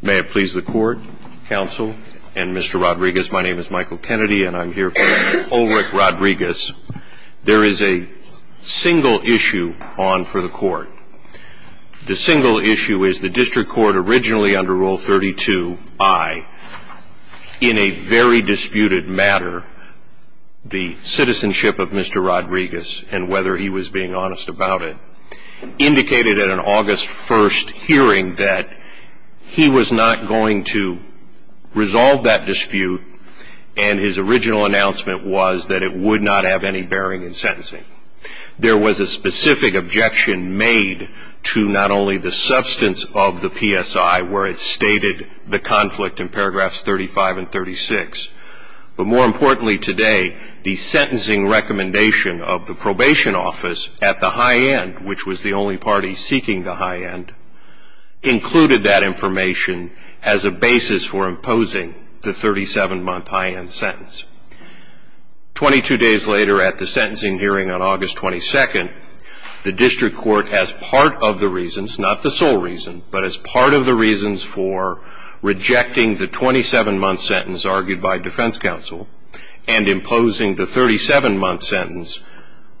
May it please the Court, Counsel, and Mr. Rodriguez, my name is Michael Kennedy and I'm here for Ulrick Rodriguez. There is a single issue on for the Court. The single issue is the District Court, originally under Rule 32i, in a very disputed matter, the citizenship of Mr. Rodriguez and whether he was being honest about it, he indicated at an August 1st hearing that he was not going to resolve that dispute and his original announcement was that it would not have any bearing in sentencing. There was a specific objection made to not only the substance of the PSI, where it stated the conflict in paragraphs 35 and 36, but more importantly today, the sentencing recommendation of the probation office at the high end, which was the only party seeking the high end, included that information as a basis for imposing the 37-month high-end sentence. Twenty-two days later at the sentencing hearing on August 22nd, the District Court, as part of the reasons, not the sole reason, but as part of the reasons for rejecting the 27-month sentence argued by defense counsel and imposing the 37-month sentence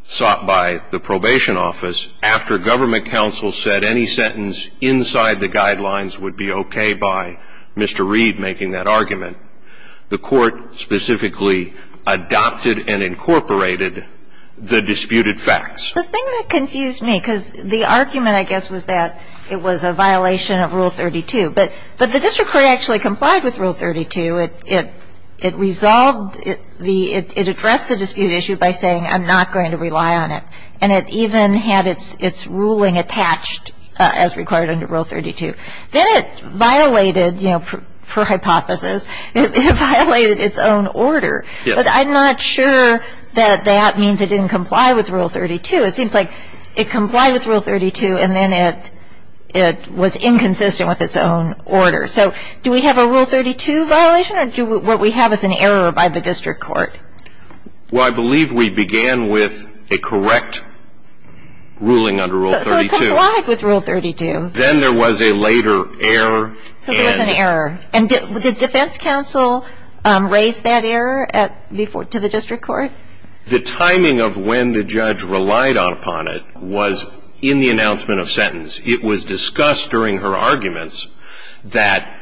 sought by the probation office, after government counsel said any sentence inside the guidelines would be okay by Mr. Reed making that argument, the Court specifically adopted and incorporated the disputed facts. The thing that confused me, because the argument, I guess, was that it was a violation of Rule 32. But the District Court actually complied with Rule 32. It resolved the ‑‑ it addressed the dispute issue by saying I'm not going to rely on it. And it even had its ruling attached as required under Rule 32. Then it violated, you know, per hypothesis, it violated its own order. But I'm not sure that that means it didn't comply with Rule 32. It seems like it complied with Rule 32, and then it was inconsistent with its own order. So do we have a Rule 32 violation, or what we have is an error by the District Court? Well, I believe we began with a correct ruling under Rule 32. So it complied with Rule 32. Then there was a later error. So there was an error. And did defense counsel raise that error to the District Court? The timing of when the judge relied upon it was in the announcement of sentence. It was discussed during her arguments that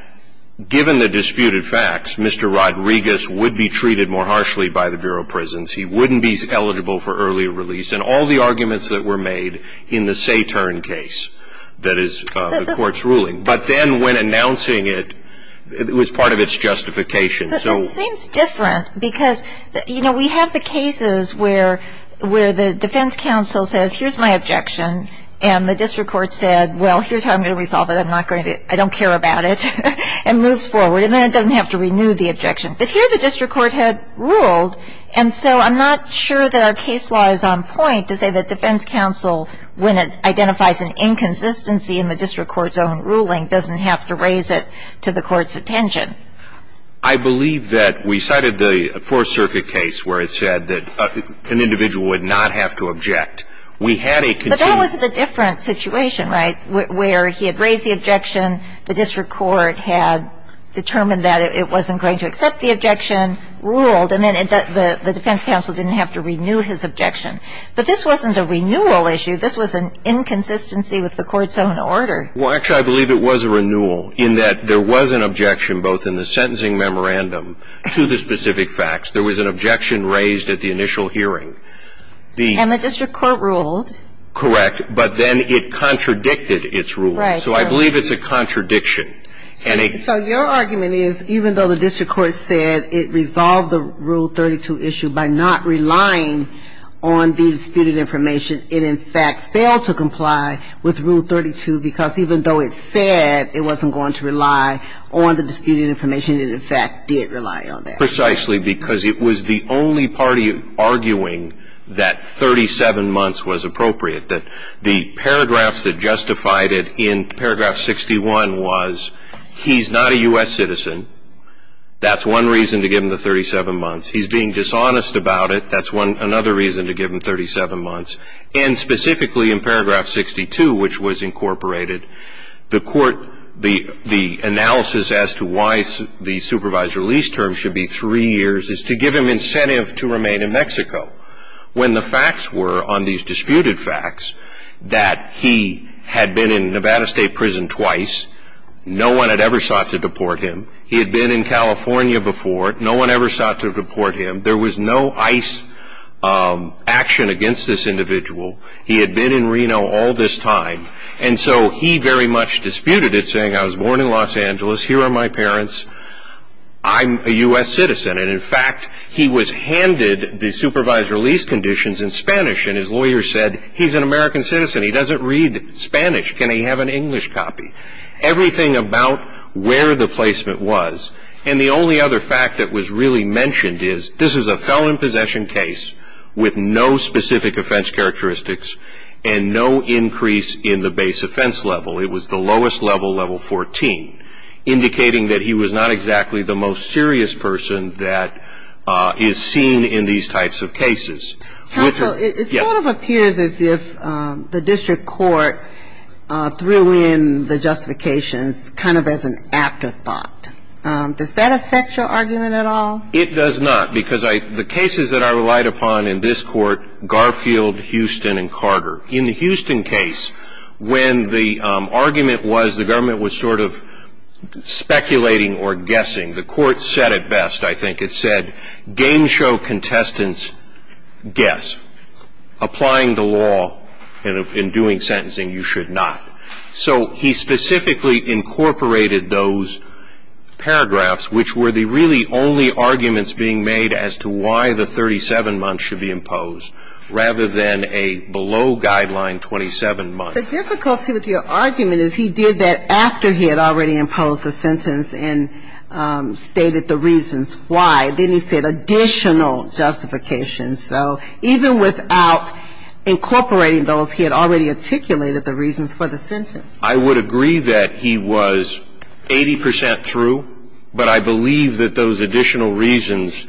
given the disputed facts, Mr. Rodriguez would be treated more harshly by the Bureau of Prisons. He wouldn't be eligible for early release. And all the arguments that were made in the Satern case that is the Court's ruling. But then when announcing it, it was part of its justification. But this seems different because, you know, we have the cases where the defense counsel says, here's my objection. And the District Court said, well, here's how I'm going to resolve it. I'm not going to, I don't care about it. And moves forward. And then it doesn't have to renew the objection. But here the District Court had ruled. And so I'm not sure that our case law is on point to say that defense counsel, when it identifies an inconsistency in the District Court's own ruling, doesn't have to raise it to the Court's attention. I believe that we cited the Fourth Circuit case where it said that an individual would not have to object. We had a conceded. But that was a different situation, right, where he had raised the objection, the District Court had determined that it wasn't going to accept the objection, ruled, and then the defense counsel didn't have to renew his objection. But this wasn't a renewal issue. This was an inconsistency with the Court's own order. Well, actually, I believe it was a renewal in that there was an objection, both in the sentencing memorandum to the specific facts. There was an objection raised at the initial hearing. And the District Court ruled. Correct. But then it contradicted its ruling. Right. So I believe it's a contradiction. So your argument is, even though the District Court said it resolved the Rule 32 issue by not relying on the disputed information, it in fact failed to comply with Rule 32 because even though it said it wasn't going to rely on the disputed information, it in fact did rely on that. Precisely because it was the only party arguing that 37 months was appropriate, that the paragraphs that justified it in paragraph 61 was he's not a U.S. citizen, that's one reason to give him the 37 months. He's being dishonest about it. That's another reason to give him 37 months. And specifically in paragraph 62, which was incorporated, the analysis as to why the supervised release term should be three years is to give him incentive to remain in Mexico. When the facts were on these disputed facts that he had been in Nevada State Prison twice, no one had ever sought to deport him. He had been in California before. No one ever sought to deport him. There was no ICE action against this individual. He had been in Reno all this time. And so he very much disputed it, saying, I was born in Los Angeles. Here are my parents. I'm a U.S. citizen. And in fact, he was handed the supervised release conditions in Spanish, and his lawyer said, he's an American citizen. He doesn't read Spanish. Can he have an English copy? Everything about where the placement was. And the only other fact that was really mentioned is this is a felon possession case with no specific offense characteristics and no increase in the base offense level. It was the lowest level, level 14, indicating that he was not exactly the most serious person that is seen in these types of cases. Counsel, it sort of appears as if the district court threw in the justifications kind of as an afterthought. Does that affect your argument at all? It does not, because the cases that I relied upon in this court, Garfield, Houston, and Carter. In the Houston case, when the argument was the government was sort of speculating or guessing, the court said it best, I think. It said, game show contestants, guess. Applying the law and doing sentencing, you should not. So he specifically incorporated those paragraphs, which were the really only arguments being made as to why the 37 months should be imposed, rather than a below guideline 27 months. The difficulty with your argument is he did that after he had already imposed the sentence and stated the reasons why. Then he said additional justifications. So even without incorporating those, he had already articulated the reasons for the sentence. I would agree that he was 80 percent through, but I believe that those additional reasons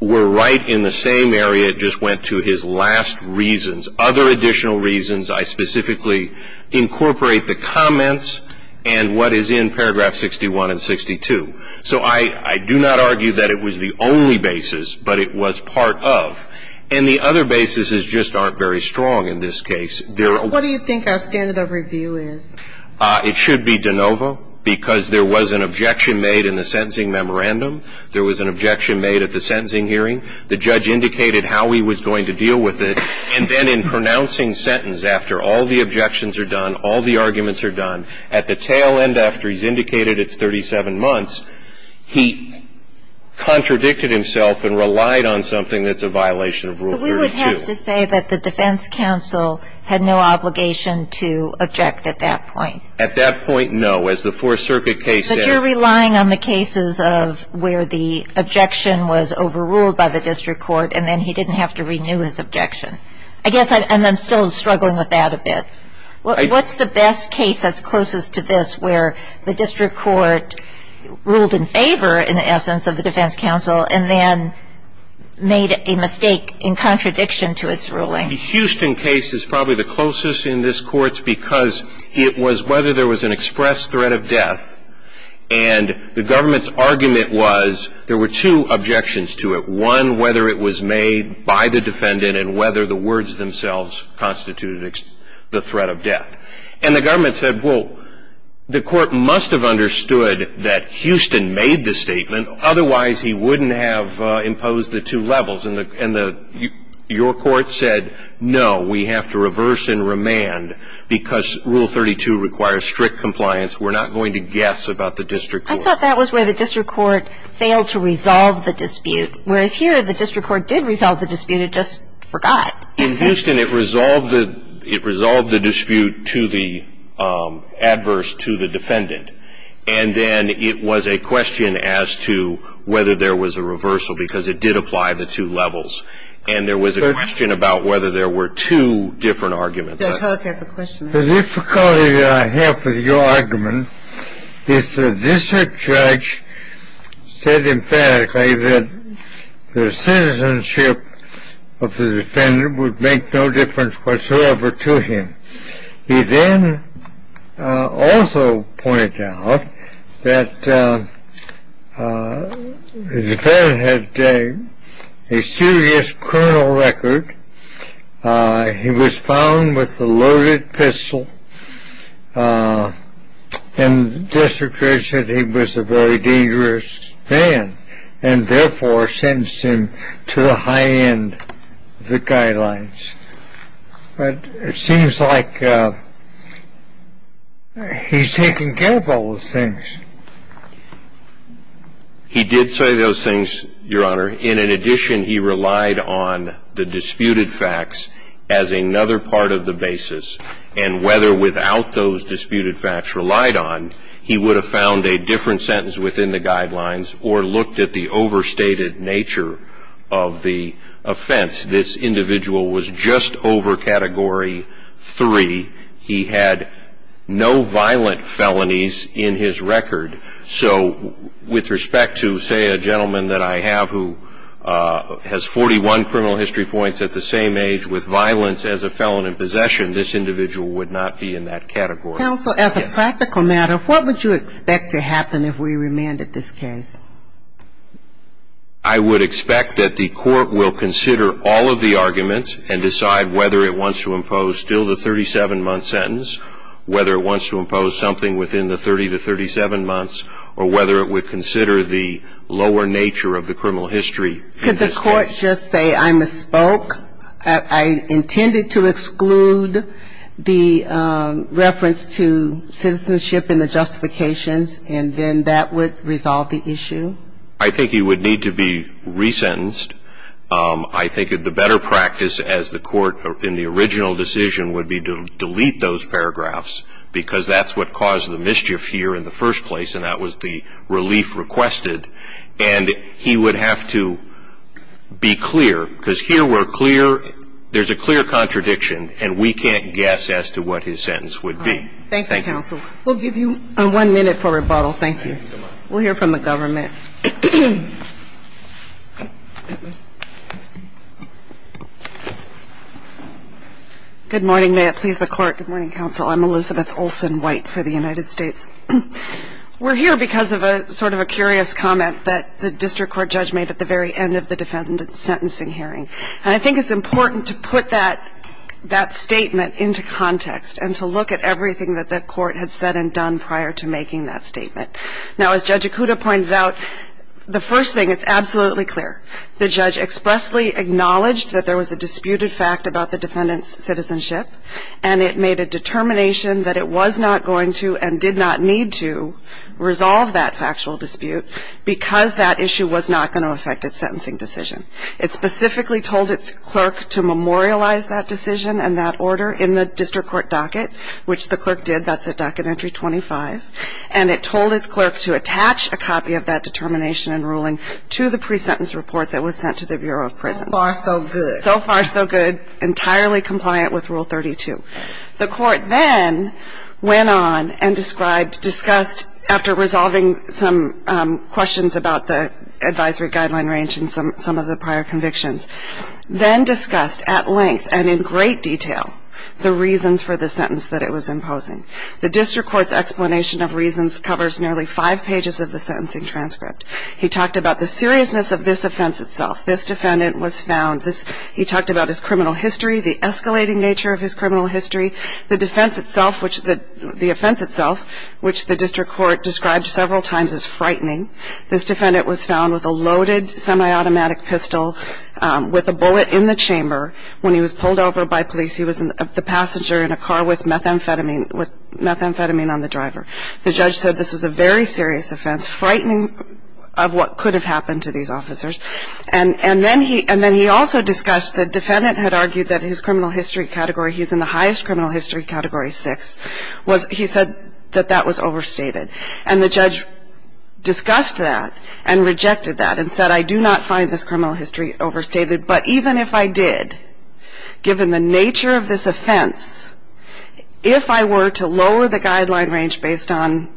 were right in the same area. It just went to his last reasons. Other additional reasons, I specifically incorporate the comments and what is in paragraph 61 and 62. So I do not argue that it was the only basis, but it was part of. And the other basis is just aren't very strong in this case. What do you think our standard of review is? It should be de novo, because there was an objection made in the sentencing memorandum. There was an objection made at the sentencing hearing. The judge indicated how he was going to deal with it, and then in pronouncing sentence after all the objections are done, all the arguments are done, at the tail end after he's indicated it's 37 months, he contradicted himself and relied on something that's a violation of Rule 32. But we would have to say that the defense counsel had no obligation to object at that point. At that point, no. As the Fourth Circuit case says — But you're relying on the cases of where the objection was overruled by the district court, and then he didn't have to renew his objection. I guess I'm still struggling with that a bit. What's the best case that's closest to this, where the district court ruled in favor in the essence of the defense counsel and then made a mistake in contradiction to its ruling? The Houston case is probably the closest in this court's because it was whether there was an express threat of death, and the government's argument was there were two objections to it. One, whether it was made by the defendant and whether the words themselves constituted the threat of death. And the government said, well, the court must have understood that Houston made the statement, otherwise he wouldn't have imposed the two levels. And your court said, no, we have to reverse and remand because Rule 32 requires strict compliance. We're not going to guess about the district court. I thought that was where the district court failed to resolve the dispute, whereas here the district court did resolve the dispute, it just forgot. In Houston, it resolved the dispute to the adverse, to the defendant. And then it was a question as to whether there was a reversal because it did apply the two levels. And there was a question about whether there were two different arguments. Judge Hook has a question. The difficulty that I have with your argument is that this judge said emphatically that the citizenship of the defendant would make no difference whatsoever to him. He then also pointed out that the defendant had a serious criminal record. He was found with a loaded pistol, and the district court said he was a very dangerous man. And therefore sentenced him to the high end of the guidelines. But it seems like he's taken care of all those things. He did say those things, Your Honor. In addition, he relied on the disputed facts as another part of the basis. And whether without those disputed facts relied on, he would have found a different sentence within the guidelines or looked at the overstated nature of the offense. This individual was just over Category 3. He had no violent felonies in his record. So with respect to, say, a gentleman that I have who has 41 criminal history points at the same age with violence as a felon in possession, this individual would not be in that category. Counsel, as a practical matter, what would you expect to happen if we remanded this case? I would expect that the court will consider all of the arguments and decide whether it wants to impose still the 37-month sentence, whether it wants to impose something within the 30 to 37 months, or whether it would consider the lower nature of the criminal history. Could the court just say, I misspoke? I intended to exclude the reference to citizenship in the justifications, and then that would resolve the issue. I think he would need to be resentenced. I think the better practice as the court in the original decision would be to delete those paragraphs because that's what caused the mischief here in the first place, and that was the relief requested. And he would have to be clear, because here we're clear, there's a clear contradiction, and we can't guess as to what his sentence would be. Thank you. Thank you, counsel. We'll give you one minute for rebuttal. Thank you. We'll hear from the government. Good morning. May it please the Court. Good morning, counsel. I'm Elizabeth Olsen White for the United States. We're here because of a sort of a curious comment that the district court judge made at the very end of the defendant's sentencing hearing, and I think it's important to put that statement into context and to look at everything that the court had said and done prior to making that statement. Now, as Judge Ikuda pointed out, the first thing, it's absolutely clear. The judge expressly acknowledged that there was a disputed fact about the defendant's citizenship, and it made a determination that it was not going to and did not need to resolve that factual dispute because that issue was not going to affect its sentencing decision. It specifically told its clerk to memorialize that decision and that order in the district court docket, which the clerk did. That's at docket entry 25. And it told its clerk to attach a copy of that determination and ruling to the pre-sentence report that was sent to the Bureau of Prisons. So far, so good. Entirely compliant with Rule 32. The court then went on and described, discussed, after resolving some questions about the advisory guideline range and some of the prior convictions, then discussed at length and in great detail the reasons for the sentence that it was imposing. The district court's explanation of reasons covers nearly five pages of the sentencing transcript. He talked about the seriousness of this offense itself. This defendant was found. He talked about his criminal history, the escalating nature of his criminal history, the offense itself, which the district court described several times as frightening. This defendant was found with a loaded semi-automatic pistol with a bullet in the chamber. When he was pulled over by police, he was the passenger in a car with methamphetamine on the driver. The judge said this was a very serious offense, frightening of what could have happened to these officers. And then he also discussed the defendant had argued that his criminal history category, he was in the highest criminal history category, 6. He said that that was overstated. And the judge discussed that and rejected that and said, I do not find this criminal history overstated, but even if I did, given the nature of this offense, if I were to lower the guideline range based on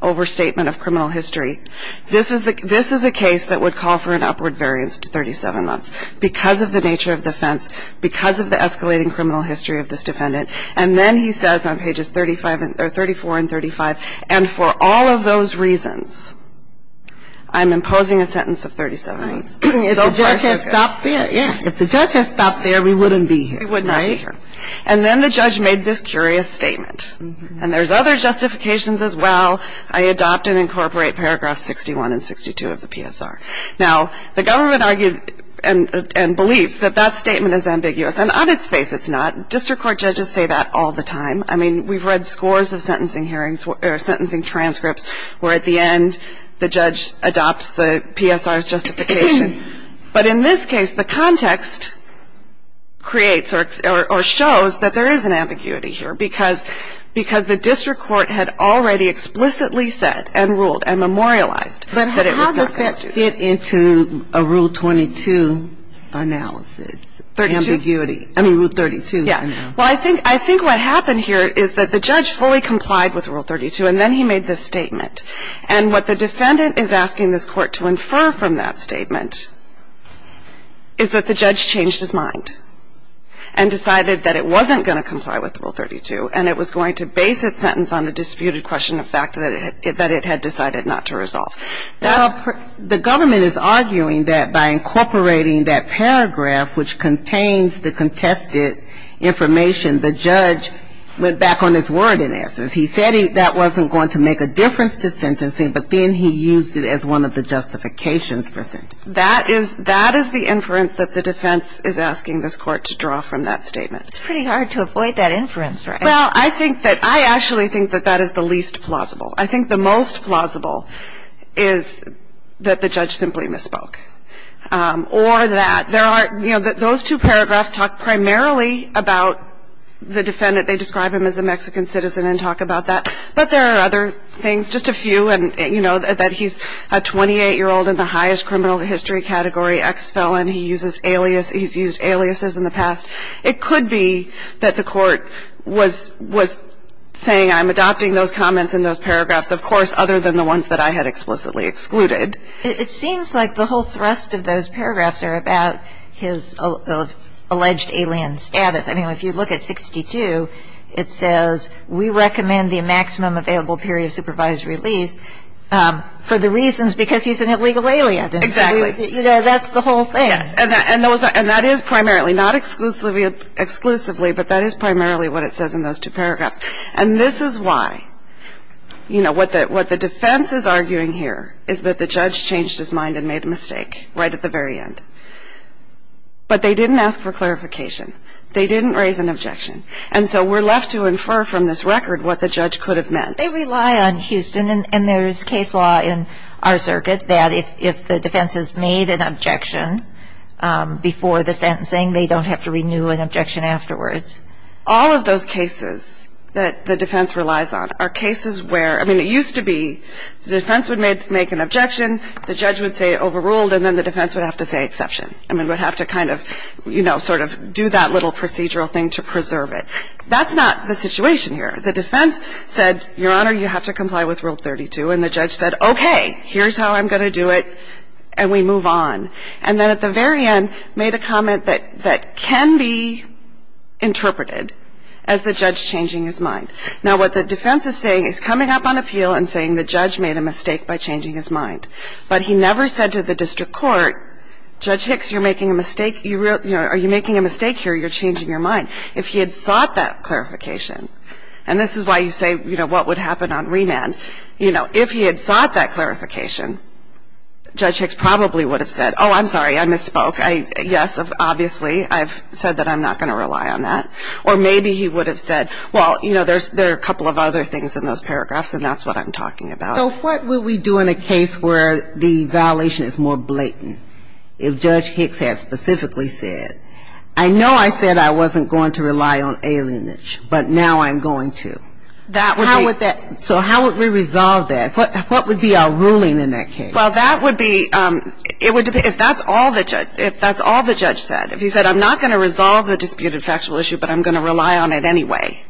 overstatement of criminal history, this is a case that would call for an upward variance to 37 months because of the nature of the offense, because of the escalating criminal history of this defendant. And then he says on pages 34 and 35, and for all of those reasons, I'm imposing a sentence of 37 months. So far so good. If the judge had stopped there, yeah. If the judge had stopped there, we wouldn't be here. We would not be here. And then the judge made this curious statement. And there's other justifications as well. I adopt and incorporate paragraphs 61 and 62 of the PSR. Now, the government argued and believes that that statement is ambiguous. And on its face, it's not. District court judges say that all the time. I mean, we've read scores of sentencing hearings or sentencing transcripts where at the end the judge adopts the PSR's justification. But in this case, the context creates or shows that there is an ambiguity here because the district court had already explicitly said and ruled and memorialized that it was not. But how does that fit into a Rule 22 analysis? Ambiguity. I mean, Rule 32. Yeah. Well, I think what happened here is that the judge fully complied with Rule 32, and then he made this statement. And what the defendant is asking this court to infer from that statement is that the judge changed his mind and decided that it wasn't going to comply with Rule 32, and it was going to base its sentence on a disputed question of fact that it had decided not to resolve. The government is arguing that by incorporating that paragraph, which contains the contested information, the judge went back on his word in essence. He said that wasn't going to make a difference to sentencing, but then he used it as one of the justifications for sentencing. That is the inference that the defense is asking this court to draw from that statement. It's pretty hard to avoid that inference, right? Well, I think that I actually think that that is the least plausible. I think the most plausible is that the judge simply misspoke or that there are, you know, those two paragraphs talk primarily about the defendant. They describe him as a Mexican citizen and talk about that. But there are other things, just a few. You know, that he's a 28-year-old in the highest criminal history category, ex-felon. He's used aliases in the past. It could be that the court was saying I'm adopting those comments in those paragraphs, of course, other than the ones that I had explicitly excluded. It seems like the whole thrust of those paragraphs are about his alleged alien status. I mean, if you look at 62, it says we recommend the maximum available period of supervised release for the reasons because he's an illegal alien. Exactly. You know, that's the whole thing. Yes. And that is primarily, not exclusively, but that is primarily what it says in those two paragraphs. And this is why, you know, what the defense is arguing here is that the judge changed his mind and made a mistake right at the very end. But they didn't ask for clarification. They didn't raise an objection. And so we're left to infer from this record what the judge could have meant. They rely on Houston, and there is case law in our circuit that if the defense has made an objection before the sentencing, they don't have to renew an objection afterwards. All of those cases that the defense relies on are cases where, I mean, it used to be the defense would make an objection, the judge would say overruled, and then the defense would have to say exception. I mean, would have to kind of, you know, sort of do that little procedural thing to preserve it. That's not the situation here. The defense said, Your Honor, you have to comply with Rule 32. And the judge said, okay, here's how I'm going to do it, and we move on. And then at the very end made a comment that can be interpreted as the judge changing his mind. Now, what the defense is saying is coming up on appeal and saying the judge made a mistake by changing his mind. But he never said to the district court, Judge Hicks, you're making a mistake. Are you making a mistake here? You're changing your mind. If he had sought that clarification, and this is why you say, you know, what would happen on remand. You know, if he had sought that clarification, Judge Hicks probably would have said, oh, I'm sorry, I misspoke. Yes, obviously, I've said that I'm not going to rely on that. Or maybe he would have said, well, you know, there are a couple of other things in those paragraphs, and that's what I'm talking about. So what would we do in a case where the violation is more blatant? If Judge Hicks had specifically said, I know I said I wasn't going to rely on alienage, but now I'm going to. That would be ‑‑ So how would we resolve that? What would be our ruling in that case? Well, that would be ‑‑ if that's all the judge said, if he said I'm not going to resolve the disputed factual issue, but I'm going to rely on it anyway,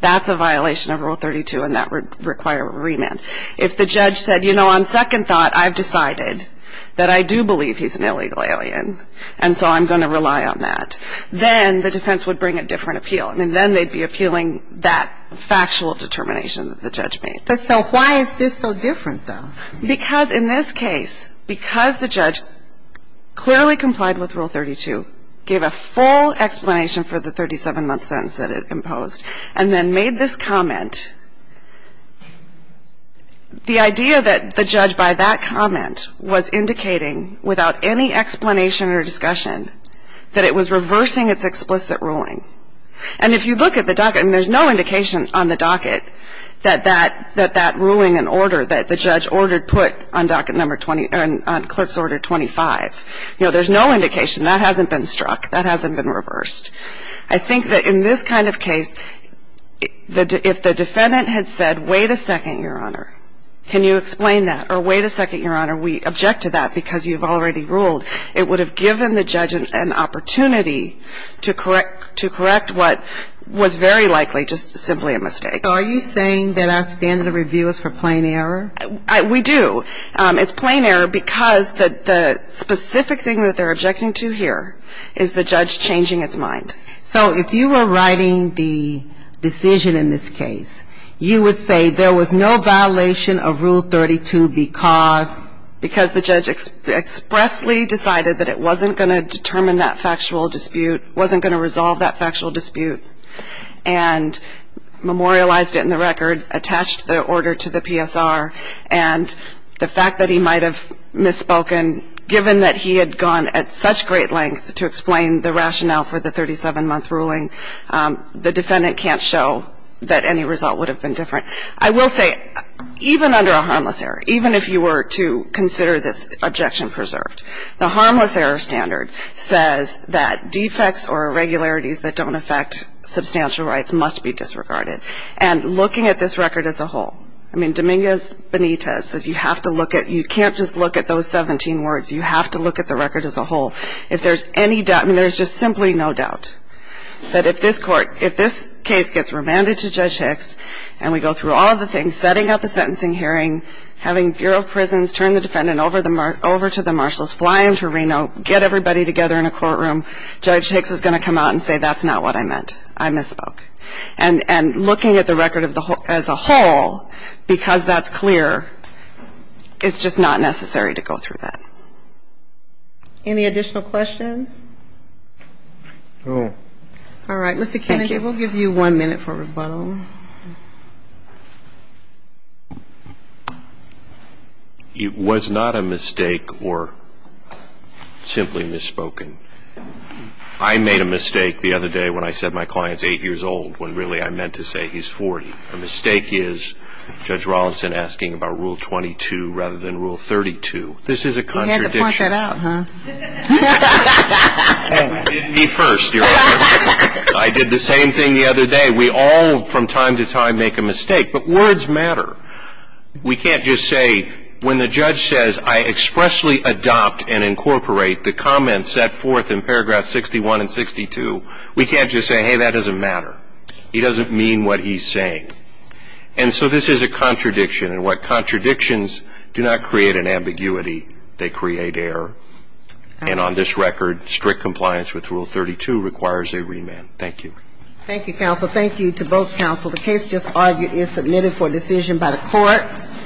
that's a violation of Rule 32, and that would require remand. If the judge said, you know, on second thought, I've decided that I do believe he's an illegal alien, and so I'm going to rely on that, then the defense would bring a different appeal. I mean, then they'd be appealing that factual determination that the judge made. But so why is this so different, though? Because in this case, because the judge clearly complied with Rule 32, gave a full explanation for the 37‑month sentence that it imposed, and then made this comment, the idea that the judge, by that comment, was indicating, without any explanation or discussion, that it was reversing its explicit ruling. And if you look at the docket, and there's no indication on the docket that that ruling and order that the judge ordered put on docket number 20 ‑‑ on Clerk's Order 25. You know, there's no indication. That hasn't been struck. That hasn't been reversed. I think that in this kind of case, if the defendant had said, wait a second, Your Honor. Can you explain that? Or, wait a second, Your Honor, we object to that because you've already ruled. It would have given the judge an opportunity to correct what was very likely just simply a mistake. So are you saying that our standard of review is for plain error? We do. It's plain error because the specific thing that they're objecting to here is the judge changing its mind. So if you were writing the decision in this case, you would say there was no violation of Rule 32 because the judge expressly decided that it wasn't going to determine that factual dispute, wasn't going to resolve that factual dispute, and memorialized it in the record, attached the order to the PSR, and the fact that he might have misspoken given that he had gone at such great length to explain the rationale for the 37-month ruling, the defendant can't show that any result would have been different. I will say, even under a harmless error, even if you were to consider this objection preserved, the harmless error standard says that defects or irregularities that don't affect substantial rights must be disregarded. And looking at this record as a whole, I mean Dominguez Benitez says you have to look at, you can't just look at those 17 words, you have to look at the record as a whole. If there's any doubt, I mean there's just simply no doubt that if this court, if this case gets remanded to Judge Hicks and we go through all the things, setting up a sentencing hearing, having Bureau of Prisons turn the defendant over to the marshals, fly him to Reno, get everybody together in a courtroom, Judge Hicks is going to come out and say that's not what I meant, I misspoke. And looking at the record as a whole, because that's clear, it's just not necessary to go through that. Any additional questions? All right. Mr. Kennedy, we'll give you one minute for rebuttal. It was not a mistake or simply misspoken. I made a mistake the other day when I said my client's 8 years old when really I meant to say he's 40. A mistake is Judge Rolison asking about Rule 22 rather than Rule 32. This is a contradiction. You had to point that out, huh? I did the same thing the other day. We all from time to time make a mistake, but words matter. We can't just say when the judge says I expressly adopt and incorporate the comments set forth in paragraph 61 and 62, we can't just say, hey, that doesn't matter. He doesn't mean what he's saying. And so this is a contradiction. And what contradictions do not create an ambiguity, they create error. And on this record, strict compliance with Rule 32 requires a remand. Thank you. Thank you, counsel. Thank you to both counsel. The case just argued is submitted for decision by the court.